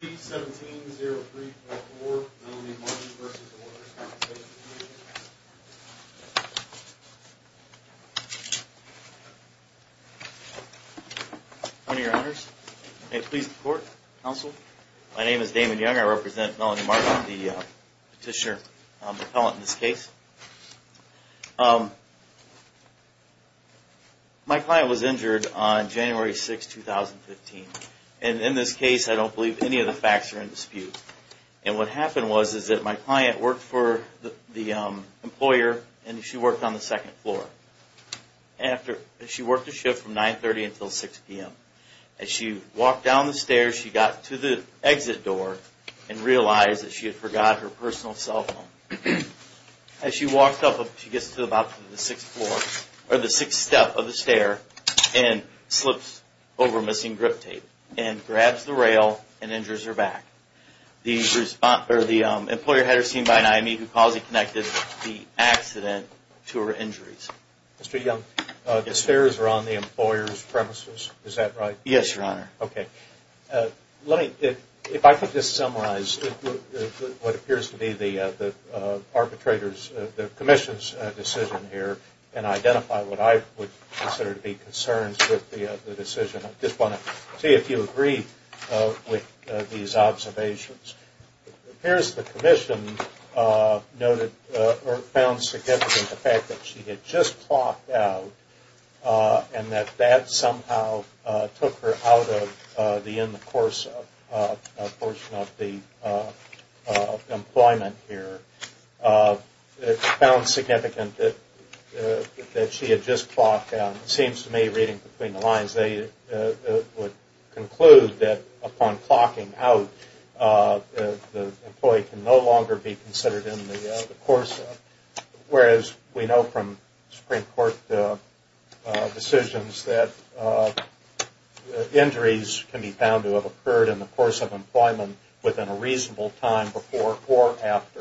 Please 1703.4 Melanie Martin v. Awarded Responsibility. Howdy, your honors. May it please the court, counsel. My name is Damon Young. I represent Melanie Martin, the petitioner, the appellant in this case. My client was injured on January 6, 2015. And in this case, I don't believe any of the facts are in dispute. And what happened was, is that my client worked for the employer and she worked on the second floor. She worked the shift from 9.30 until 6 p.m. As she walked down the stairs, she got to the exit door and realized that she had forgot her personal cell phone. As she walks up, she gets to about the sixth floor, or the sixth step of the stair and slips over missing grip tape and grabs the rail and injures her back. The employer had her seen by an IME who calls it connected the accident to her injuries. Mr. Young, the stairs are on the employer's premises, is that right? Yes, your honor. Okay. Let me, if I could just summarize what appears to be the arbitrator's, the commission's decision here and identify what I would consider to be concerns with the decision. I just want to see if you agree with these observations. It appears the commission noted or found significant the fact that she had just clocked out and that that somehow took her out of the in the course of a portion of the employment here. It found significant that she had just clocked out. It seems to me reading between the lines, they would conclude that upon clocking out, the employee can no longer be considered in the course of, whereas we know from Supreme Court decisions that injuries can be found to have occurred in the course of employment within a reasonable time before or after.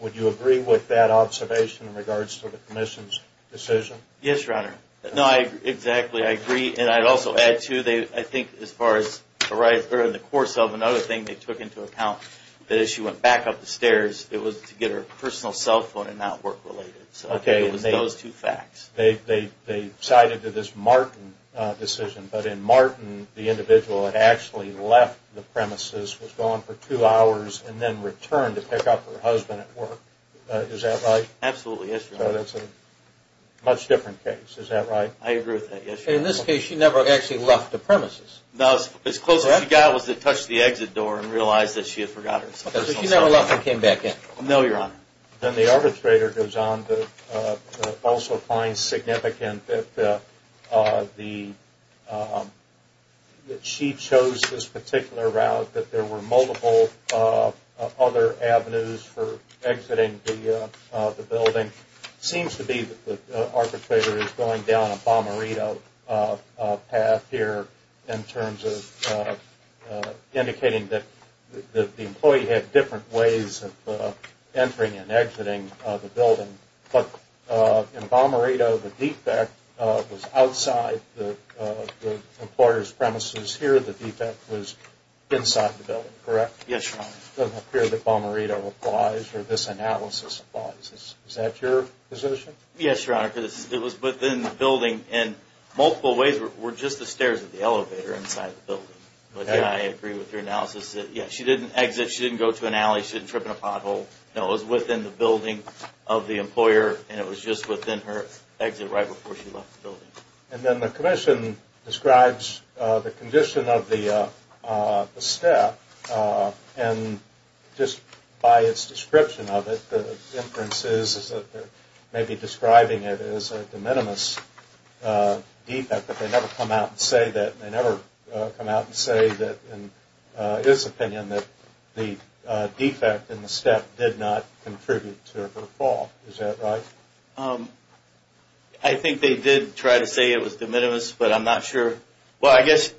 Would you agree with that observation in regards to the commission's decision? Yes, your honor. No, exactly, I agree. And I'd also add too, I think as far as in the course of another thing, they took into account that as she went back up the stairs, it was to get her personal cell phone and not work related. So it was those two facts. They cited to this Martin decision, but in Martin, the individual had actually left the premises, was gone for two hours, and then returned to pick up her husband at work. Is that right? Absolutely, yes, your honor. So that's a much different case, is that right? I agree with that, yes, your honor. In this case, she never actually left the premises? No, as close as she got was to touch the exit door and realize that she had forgot her personal cell phone. She never left and came back in? No, your honor. Then the arbitrator goes on to also find significant that she chose this particular route, that there were multiple other avenues for exiting the building. Seems to be that the arbitrator is going down a bomberito path here in terms of indicating that the employee had different ways of entering and exiting. But in bomberito, the defect was outside the employer's premises. Here, the defect was inside the building, correct? Yes, your honor. It doesn't appear that bomberito applies or this analysis applies. Is that your position? Yes, your honor. It was within the building and multiple ways were just the stairs of the elevator inside the building. But I agree with your analysis that she didn't exit, she didn't go to an alley, she didn't trip in a pothole. No, it was within the building of the employer and it was just within her exit right before she left the building. And then the commission describes the condition of the step and just by its description of it, the inference is that they're maybe describing it as a de minimis defect, but they never come out and say that. They never come out and say that in his opinion that the defect in the step did not contribute to her fall. Is that right? I think they did try to say it was de minimis, but I'm not sure. Well, I guess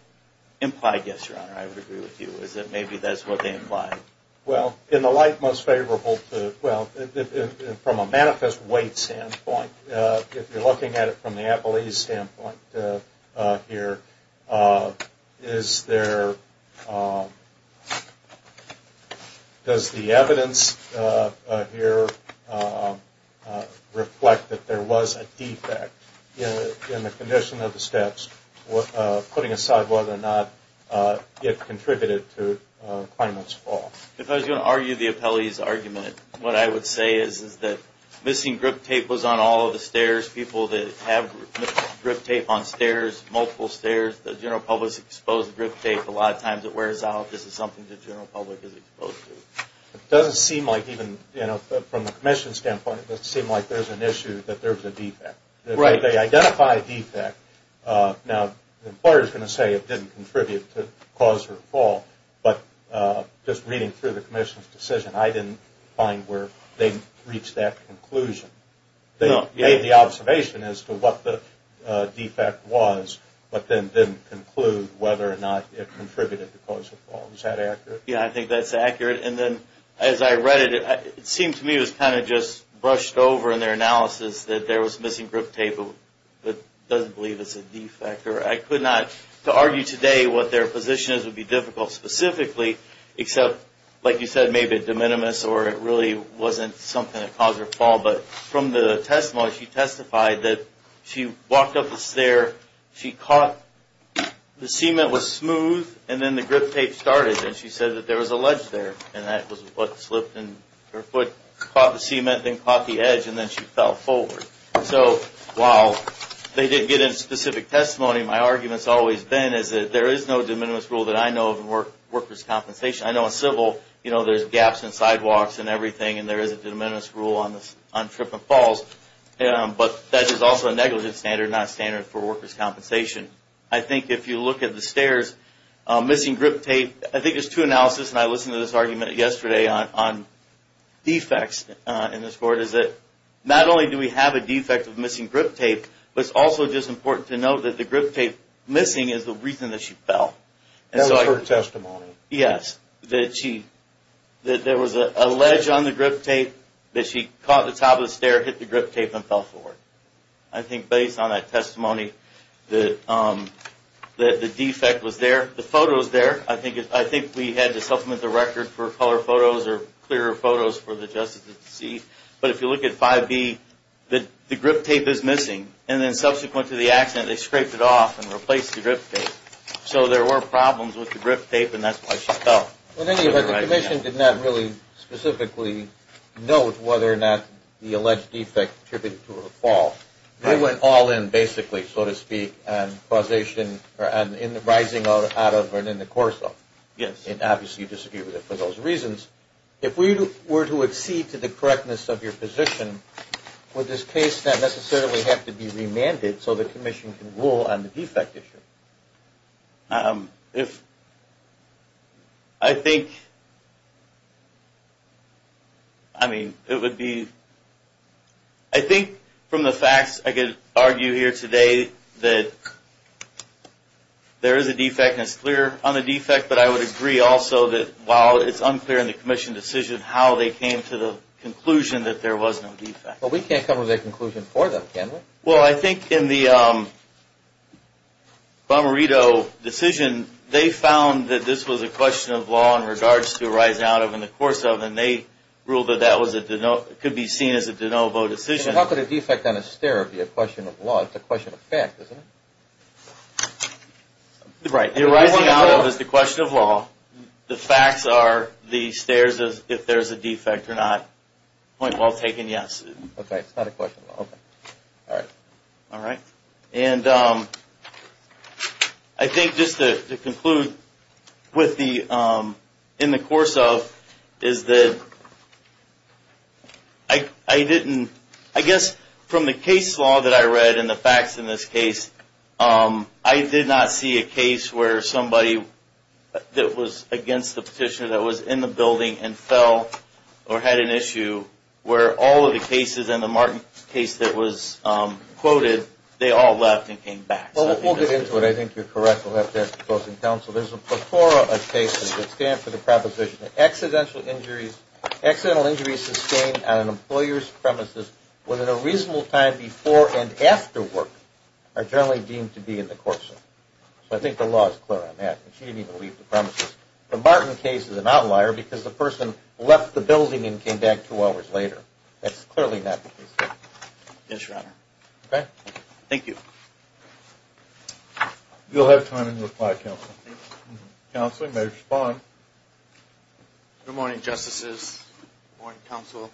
implied yes, your honor. I would agree with you is that maybe that's what they implied. Well, in the light most favorable to, well, from a manifest weight standpoint, if you're looking at it from the Appalachian standpoint here, is there, does the evidence here reflect that there was a defect in the condition of the steps, putting aside whether or not it contributed to Clement's fall? If I was going to argue the appellee's argument, what I would say is that missing grip tape was on all of the stairs. People that have grip tape on stairs, multiple stairs, the general public is exposed to grip tape. A lot of times it wears out. This is something the general public is exposed to. It doesn't seem like even, you know, from the commission's standpoint, it doesn't seem like there's an issue that there was a defect. If they identify a defect, now the employer is going to say it didn't contribute to cause her fall, but just reading through the commission's decision, I didn't find where they reached that conclusion. They made the observation as to what the defect was, but then didn't conclude whether or not it contributed to cause her fall. Is that accurate? Yeah, I think that's accurate. And then as I read it, it seemed to me it was kind of just brushed over in their analysis that there was missing grip tape, but doesn't believe it's a defect. I could not argue today what their position is would be difficult specifically, except, like you said, maybe de minimis or it really wasn't something that caused her fall. But from the testimony, she testified that she walked up the stair, she caught the cement was smooth, and then the grip tape started, and she said that there was a ledge there. And that was what slipped, and her foot caught the cement, then caught the edge, and then she fell forward. So while they didn't get into specific testimony, my argument's always been is that there is no de minimis rule that I know of in workers' compensation. I know in civil, you know, there's gaps in sidewalks and everything, and there is a de minimis rule on trip and falls, but that is also a negligence standard, not a standard for workers' compensation. I think if you look at the stairs, missing grip tape, I think it's true analysis, and I listened to this argument yesterday on defects in this court, is that not only do we have a defect of missing grip tape, but it's also just important to note that the grip tape missing is the reason that she fell. That was her testimony. There were problems with the grip tape, and that's why she fell. In any event, the commission did not really specifically note whether or not the alleged defect attributed to her fall. It went all in, basically, so to speak, on rising out of and in the course of. Yes. And obviously you disagree with it for those reasons. If we were to accede to the correctness of your position, would this case not necessarily have to be remanded so the commission can rule on the defect issue? If, I think, I mean, it would be, I think from the facts I could argue here today that there is a defect and it's clear on the defect, but I would agree also that while it's unclear in the commission decision how they came to the conclusion that there was no defect. But we can't come to that conclusion for them, can we? Well, I think in the Bomarito decision, they found that this was a question of law in regards to rising out of and in the course of, and they ruled that that could be seen as a de novo decision. How could a defect on a stair be a question of law? It's a question of fact, isn't it? Right. The rising out of is the question of law. The facts are the stairs if there's a defect or not. Point well taken, yes. Okay, it's not a question of law. All right. And I think just to conclude with the, in the course of, is that I didn't, I guess from the case law that I read and the facts in this case, I did not see a case where somebody that was against the petitioner that was in the building and fell or had an issue where all of the cases and the Martin case that was quoted, they all left and came back. Well, we'll get into it. I think you're correct. We'll have to ask the opposing counsel. There's a plethora of cases that stand for the proposition that accidental injuries sustained on an employer's premises within a reasonable time before and after work are generally deemed to be in the course of. So I think the law is clear on that. She didn't even leave the premises. The Martin case is an outlier because the person left the building and came back two hours later. That's clearly not the case. Yes, Your Honor. Okay. Thank you. You'll have time in reply, Counsel. Counsel, you may respond. Good morning, Justices. Good morning, Counsel.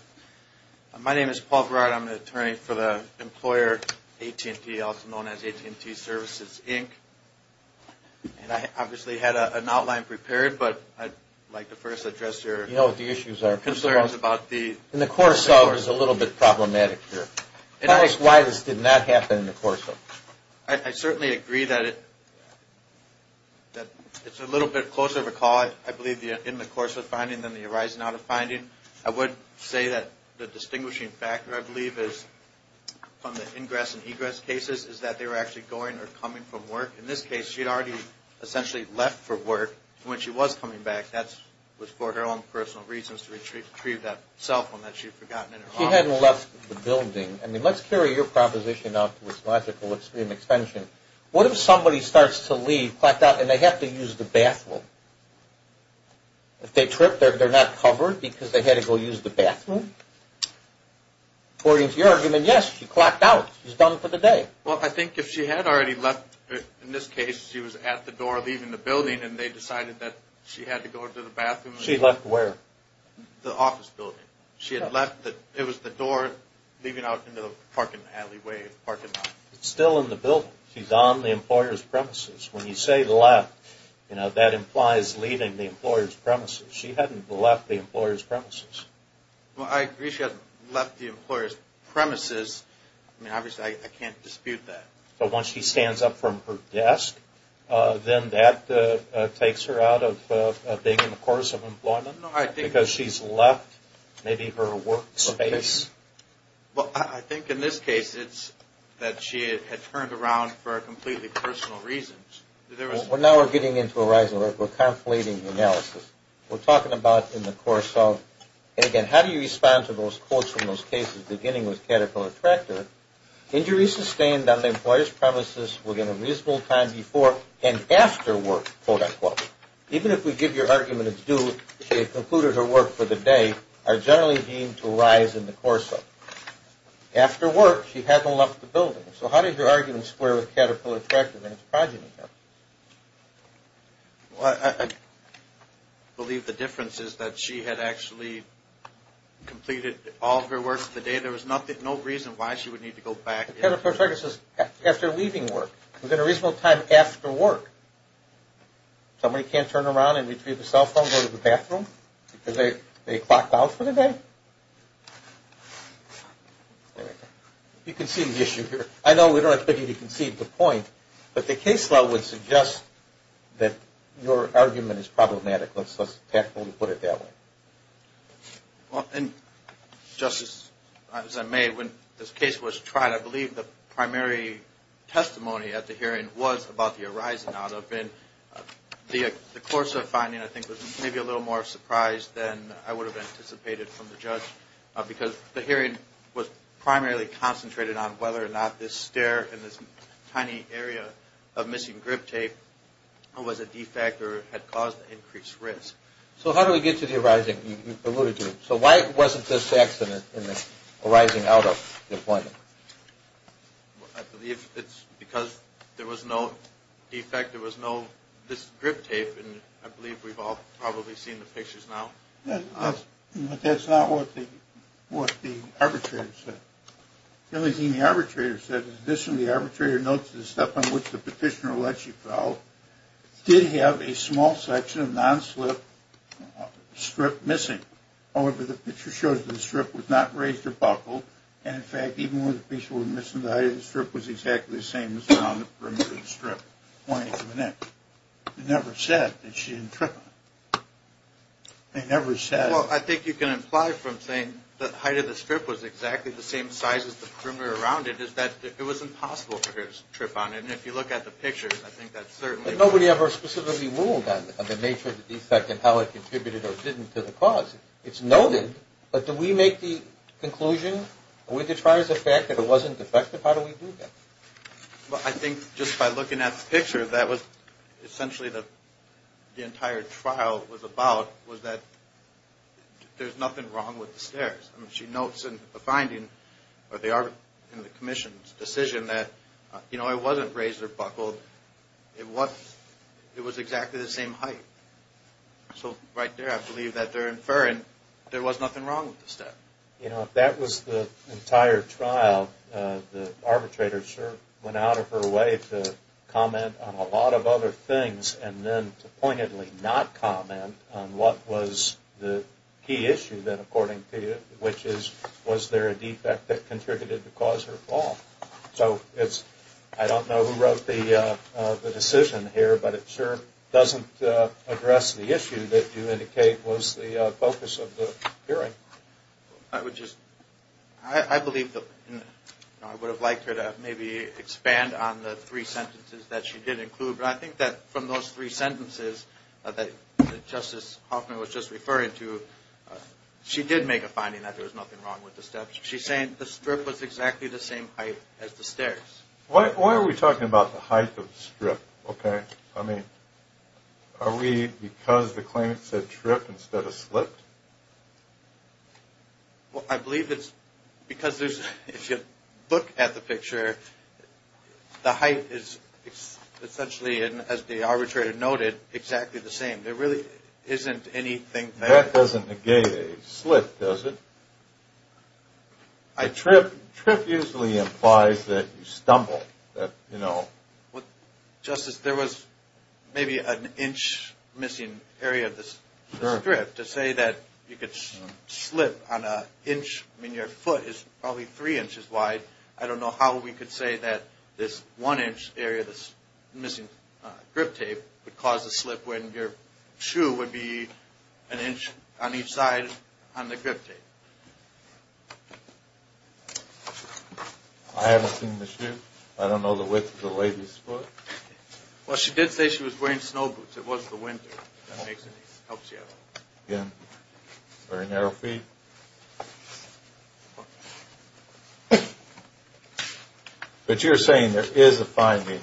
My name is Paul Verard. I'm the attorney for the employer, AT&T, also known as AT&T Services, Inc. And I obviously had an outline prepared, but I'd like to first address your concerns about the… You know what the issues are. And the course of is a little bit problematic here. Tell us why this did not happen in the course of it. I certainly agree that it's a little bit closer of a call, I believe, in the course of finding than the arising out of finding. I would say that the distinguishing factor, I believe, is from the ingress and egress cases is that they were actually going or coming from work. In this case, she had already essentially left for work. When she was coming back, that was for her own personal reasons to retrieve that cell phone that she had forgotten in her office. If she hadn't left the building, I mean, let's carry your proposition out to its logical extreme extension. What if somebody starts to leave, clacked out, and they have to use the bathroom? If they trip, they're not covered because they had to go use the bathroom? According to your argument, yes, she clacked out. She's done for the day. Well, I think if she had already left, in this case, she was at the door leaving the building and they decided that she had to go to the bathroom… She left where? The office building. She had left. It was the door leaving out into the parking alleyway, parking lot. It's still in the building. She's on the employer's premises. When you say left, you know, that implies leaving the employer's premises. She hadn't left the employer's premises. Well, I agree she hadn't left the employer's premises. I mean, obviously, I can't dispute that. But once she stands up from her desk, then that takes her out of being in the course of employment? Because she's left maybe her work space? Well, I think in this case it's that she had turned around for completely personal reasons. We're now getting into a rising, we're conflating analysis. We're talking about in the course of, and again, how do you respond to those quotes from those cases beginning with Caterpillar Tractor? Injuries sustained on the employer's premises within a reasonable time before and after work, quote-unquote. Even if we give your argument it's due, she had concluded her work for the day, are generally deemed to rise in the course of. After work, she hadn't left the building. So how did your argument square with Caterpillar Tractor and its progeny here? Well, I believe the difference is that she had actually completed all of her work for the day. There was no reason why she would need to go back. Caterpillar Tractor says after leaving work. Within a reasonable time after work. Somebody can't turn around and retrieve a cell phone and go to the bathroom because they clocked out for the day? There we go. You can see the issue here. I know we don't expect you to conceive the point, but the case law would suggest that your argument is problematic. Let's tactfully put it that way. Justice, as I may, when this case was tried, I believe the primary testimony at the hearing was about the horizon. The course of finding, I think, was maybe a little more surprised than I would have anticipated from the judge. Because the hearing was primarily concentrated on whether or not this stair and this tiny area of missing grip tape was a defect or had caused increased risk. So how do we get to the horizon you alluded to? So why wasn't this accident in the horizon out of the appointment? I believe it's because there was no defect. There was no this grip tape. And I believe we've all probably seen the pictures now. That's not what the arbitrator said. The only thing the arbitrator said is this. The only thing the arbitrator notes is the step on which the petitioner alleged she fell did have a small section of non-slip strip missing. However, the picture shows that the strip was not raised or buckled. And, in fact, even when the piece was missing, the height of the strip was exactly the same as around the perimeter of the strip. They never said that she didn't trip on it. They never said it. Well, I think you can imply from saying the height of the strip was exactly the same size as the perimeter around it is that it was impossible for her to trip on it. And if you look at the picture, I think that's certainly true. But nobody ever specifically ruled on the nature of the defect and how it contributed or didn't to the cause. It's noted. But do we make the conclusion? Are we to try as a fact that it wasn't defective? How do we do that? Well, I think just by looking at the picture, that was essentially the entire trial was about was that there's nothing wrong with the stairs. I mean, she notes in the finding or in the commission's decision that, you know, it wasn't raised or buckled. It was exactly the same height. So, right there, I believe that they're inferring there was nothing wrong with the step. You know, if that was the entire trial, the arbitrator sure went out of her way to comment on a lot of other things and then to pointedly not comment on what was the key issue then, according to you, which is was there a defect that contributed to cause her fall. So, I don't know who wrote the decision here, but it sure doesn't address the issue that you indicate was the focus of the hearing. I would just, I believe that I would have liked her to maybe expand on the three sentences that she did include. But I think that from those three sentences that Justice Hoffman was just referring to, she did make a finding that there was nothing wrong with the steps. She's saying the strip was exactly the same height as the stairs. Why are we talking about the height of the strip, okay? I mean, are we because the claimant said trip instead of slipped? Well, I believe it's because if you look at the picture, the height is essentially, as the arbitrator noted, exactly the same. There really isn't anything there. Well, that doesn't negate a slip, does it? A trip usually implies that you stumble. Justice, there was maybe an inch missing area of the strip to say that you could slip on an inch. I mean, your foot is probably three inches wide. I don't know how we could say that this one inch area, this missing grip tape, would cause a slip when your shoe would be an inch on each side on the grip tape. I haven't seen the shoe. I don't know the width of the lady's foot. Well, she did say she was wearing snow boots. It was the winter. That helps you out. Again, very narrow feet. Okay. But you're saying there is a finding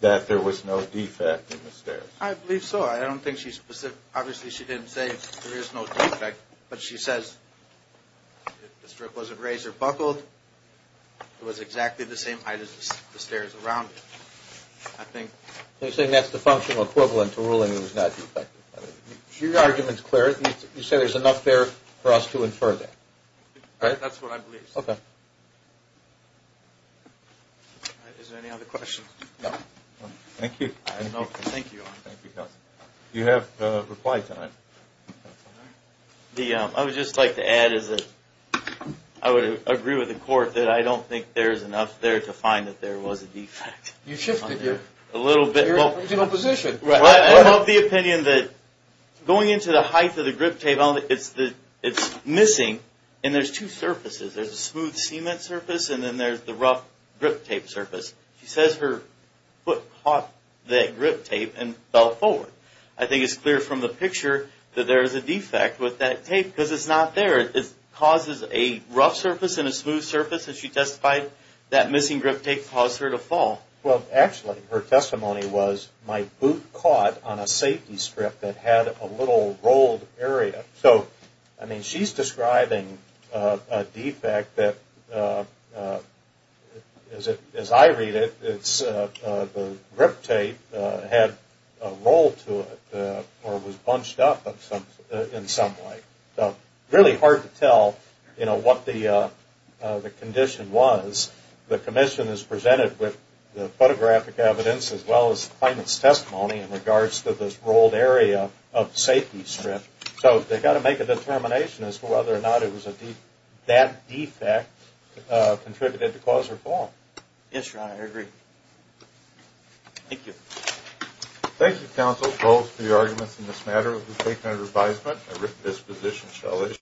that there was no defect in the stairs? I believe so. I don't think she's specific. Obviously, she didn't say there is no defect, but she says the strip wasn't raised or buckled. It was exactly the same height as the stairs around it, I think. So you're saying that's the functional equivalent to ruling it was not defective. Your argument is clear. You say there's enough there for us to infer that. That's what I believe. Okay. Is there any other questions? No. Thank you. Thank you. You have reply time. I would just like to add is that I would agree with the court that I don't think there is enough there to find that there was a defect. You shifted your position. I love the opinion that going into the height of the grip tape, it's missing, and there's two surfaces. There's a smooth cement surface, and then there's the rough grip tape surface. She says her foot caught that grip tape and fell forward. I think it's clear from the picture that there is a defect with that tape because it's not there. It causes a rough surface and a smooth surface, and she testified that missing grip tape caused her to fall. Well, actually, her testimony was my boot caught on a safety strip that had a little rolled area. So, I mean, she's describing a defect that, as I read it, the grip tape had a roll to it or was bunched up in some way. So, really hard to tell, you know, what the condition was. The commission has presented with the photographic evidence as well as the plaintiff's testimony in regards to this rolled area of the safety strip. So, they've got to make a determination as to whether or not it was that defect that contributed to cause her fall. Yes, Your Honor, I agree. Thank you. Thank you, counsel, both for your arguments in this matter. It was taken under advisement. This position shall issue.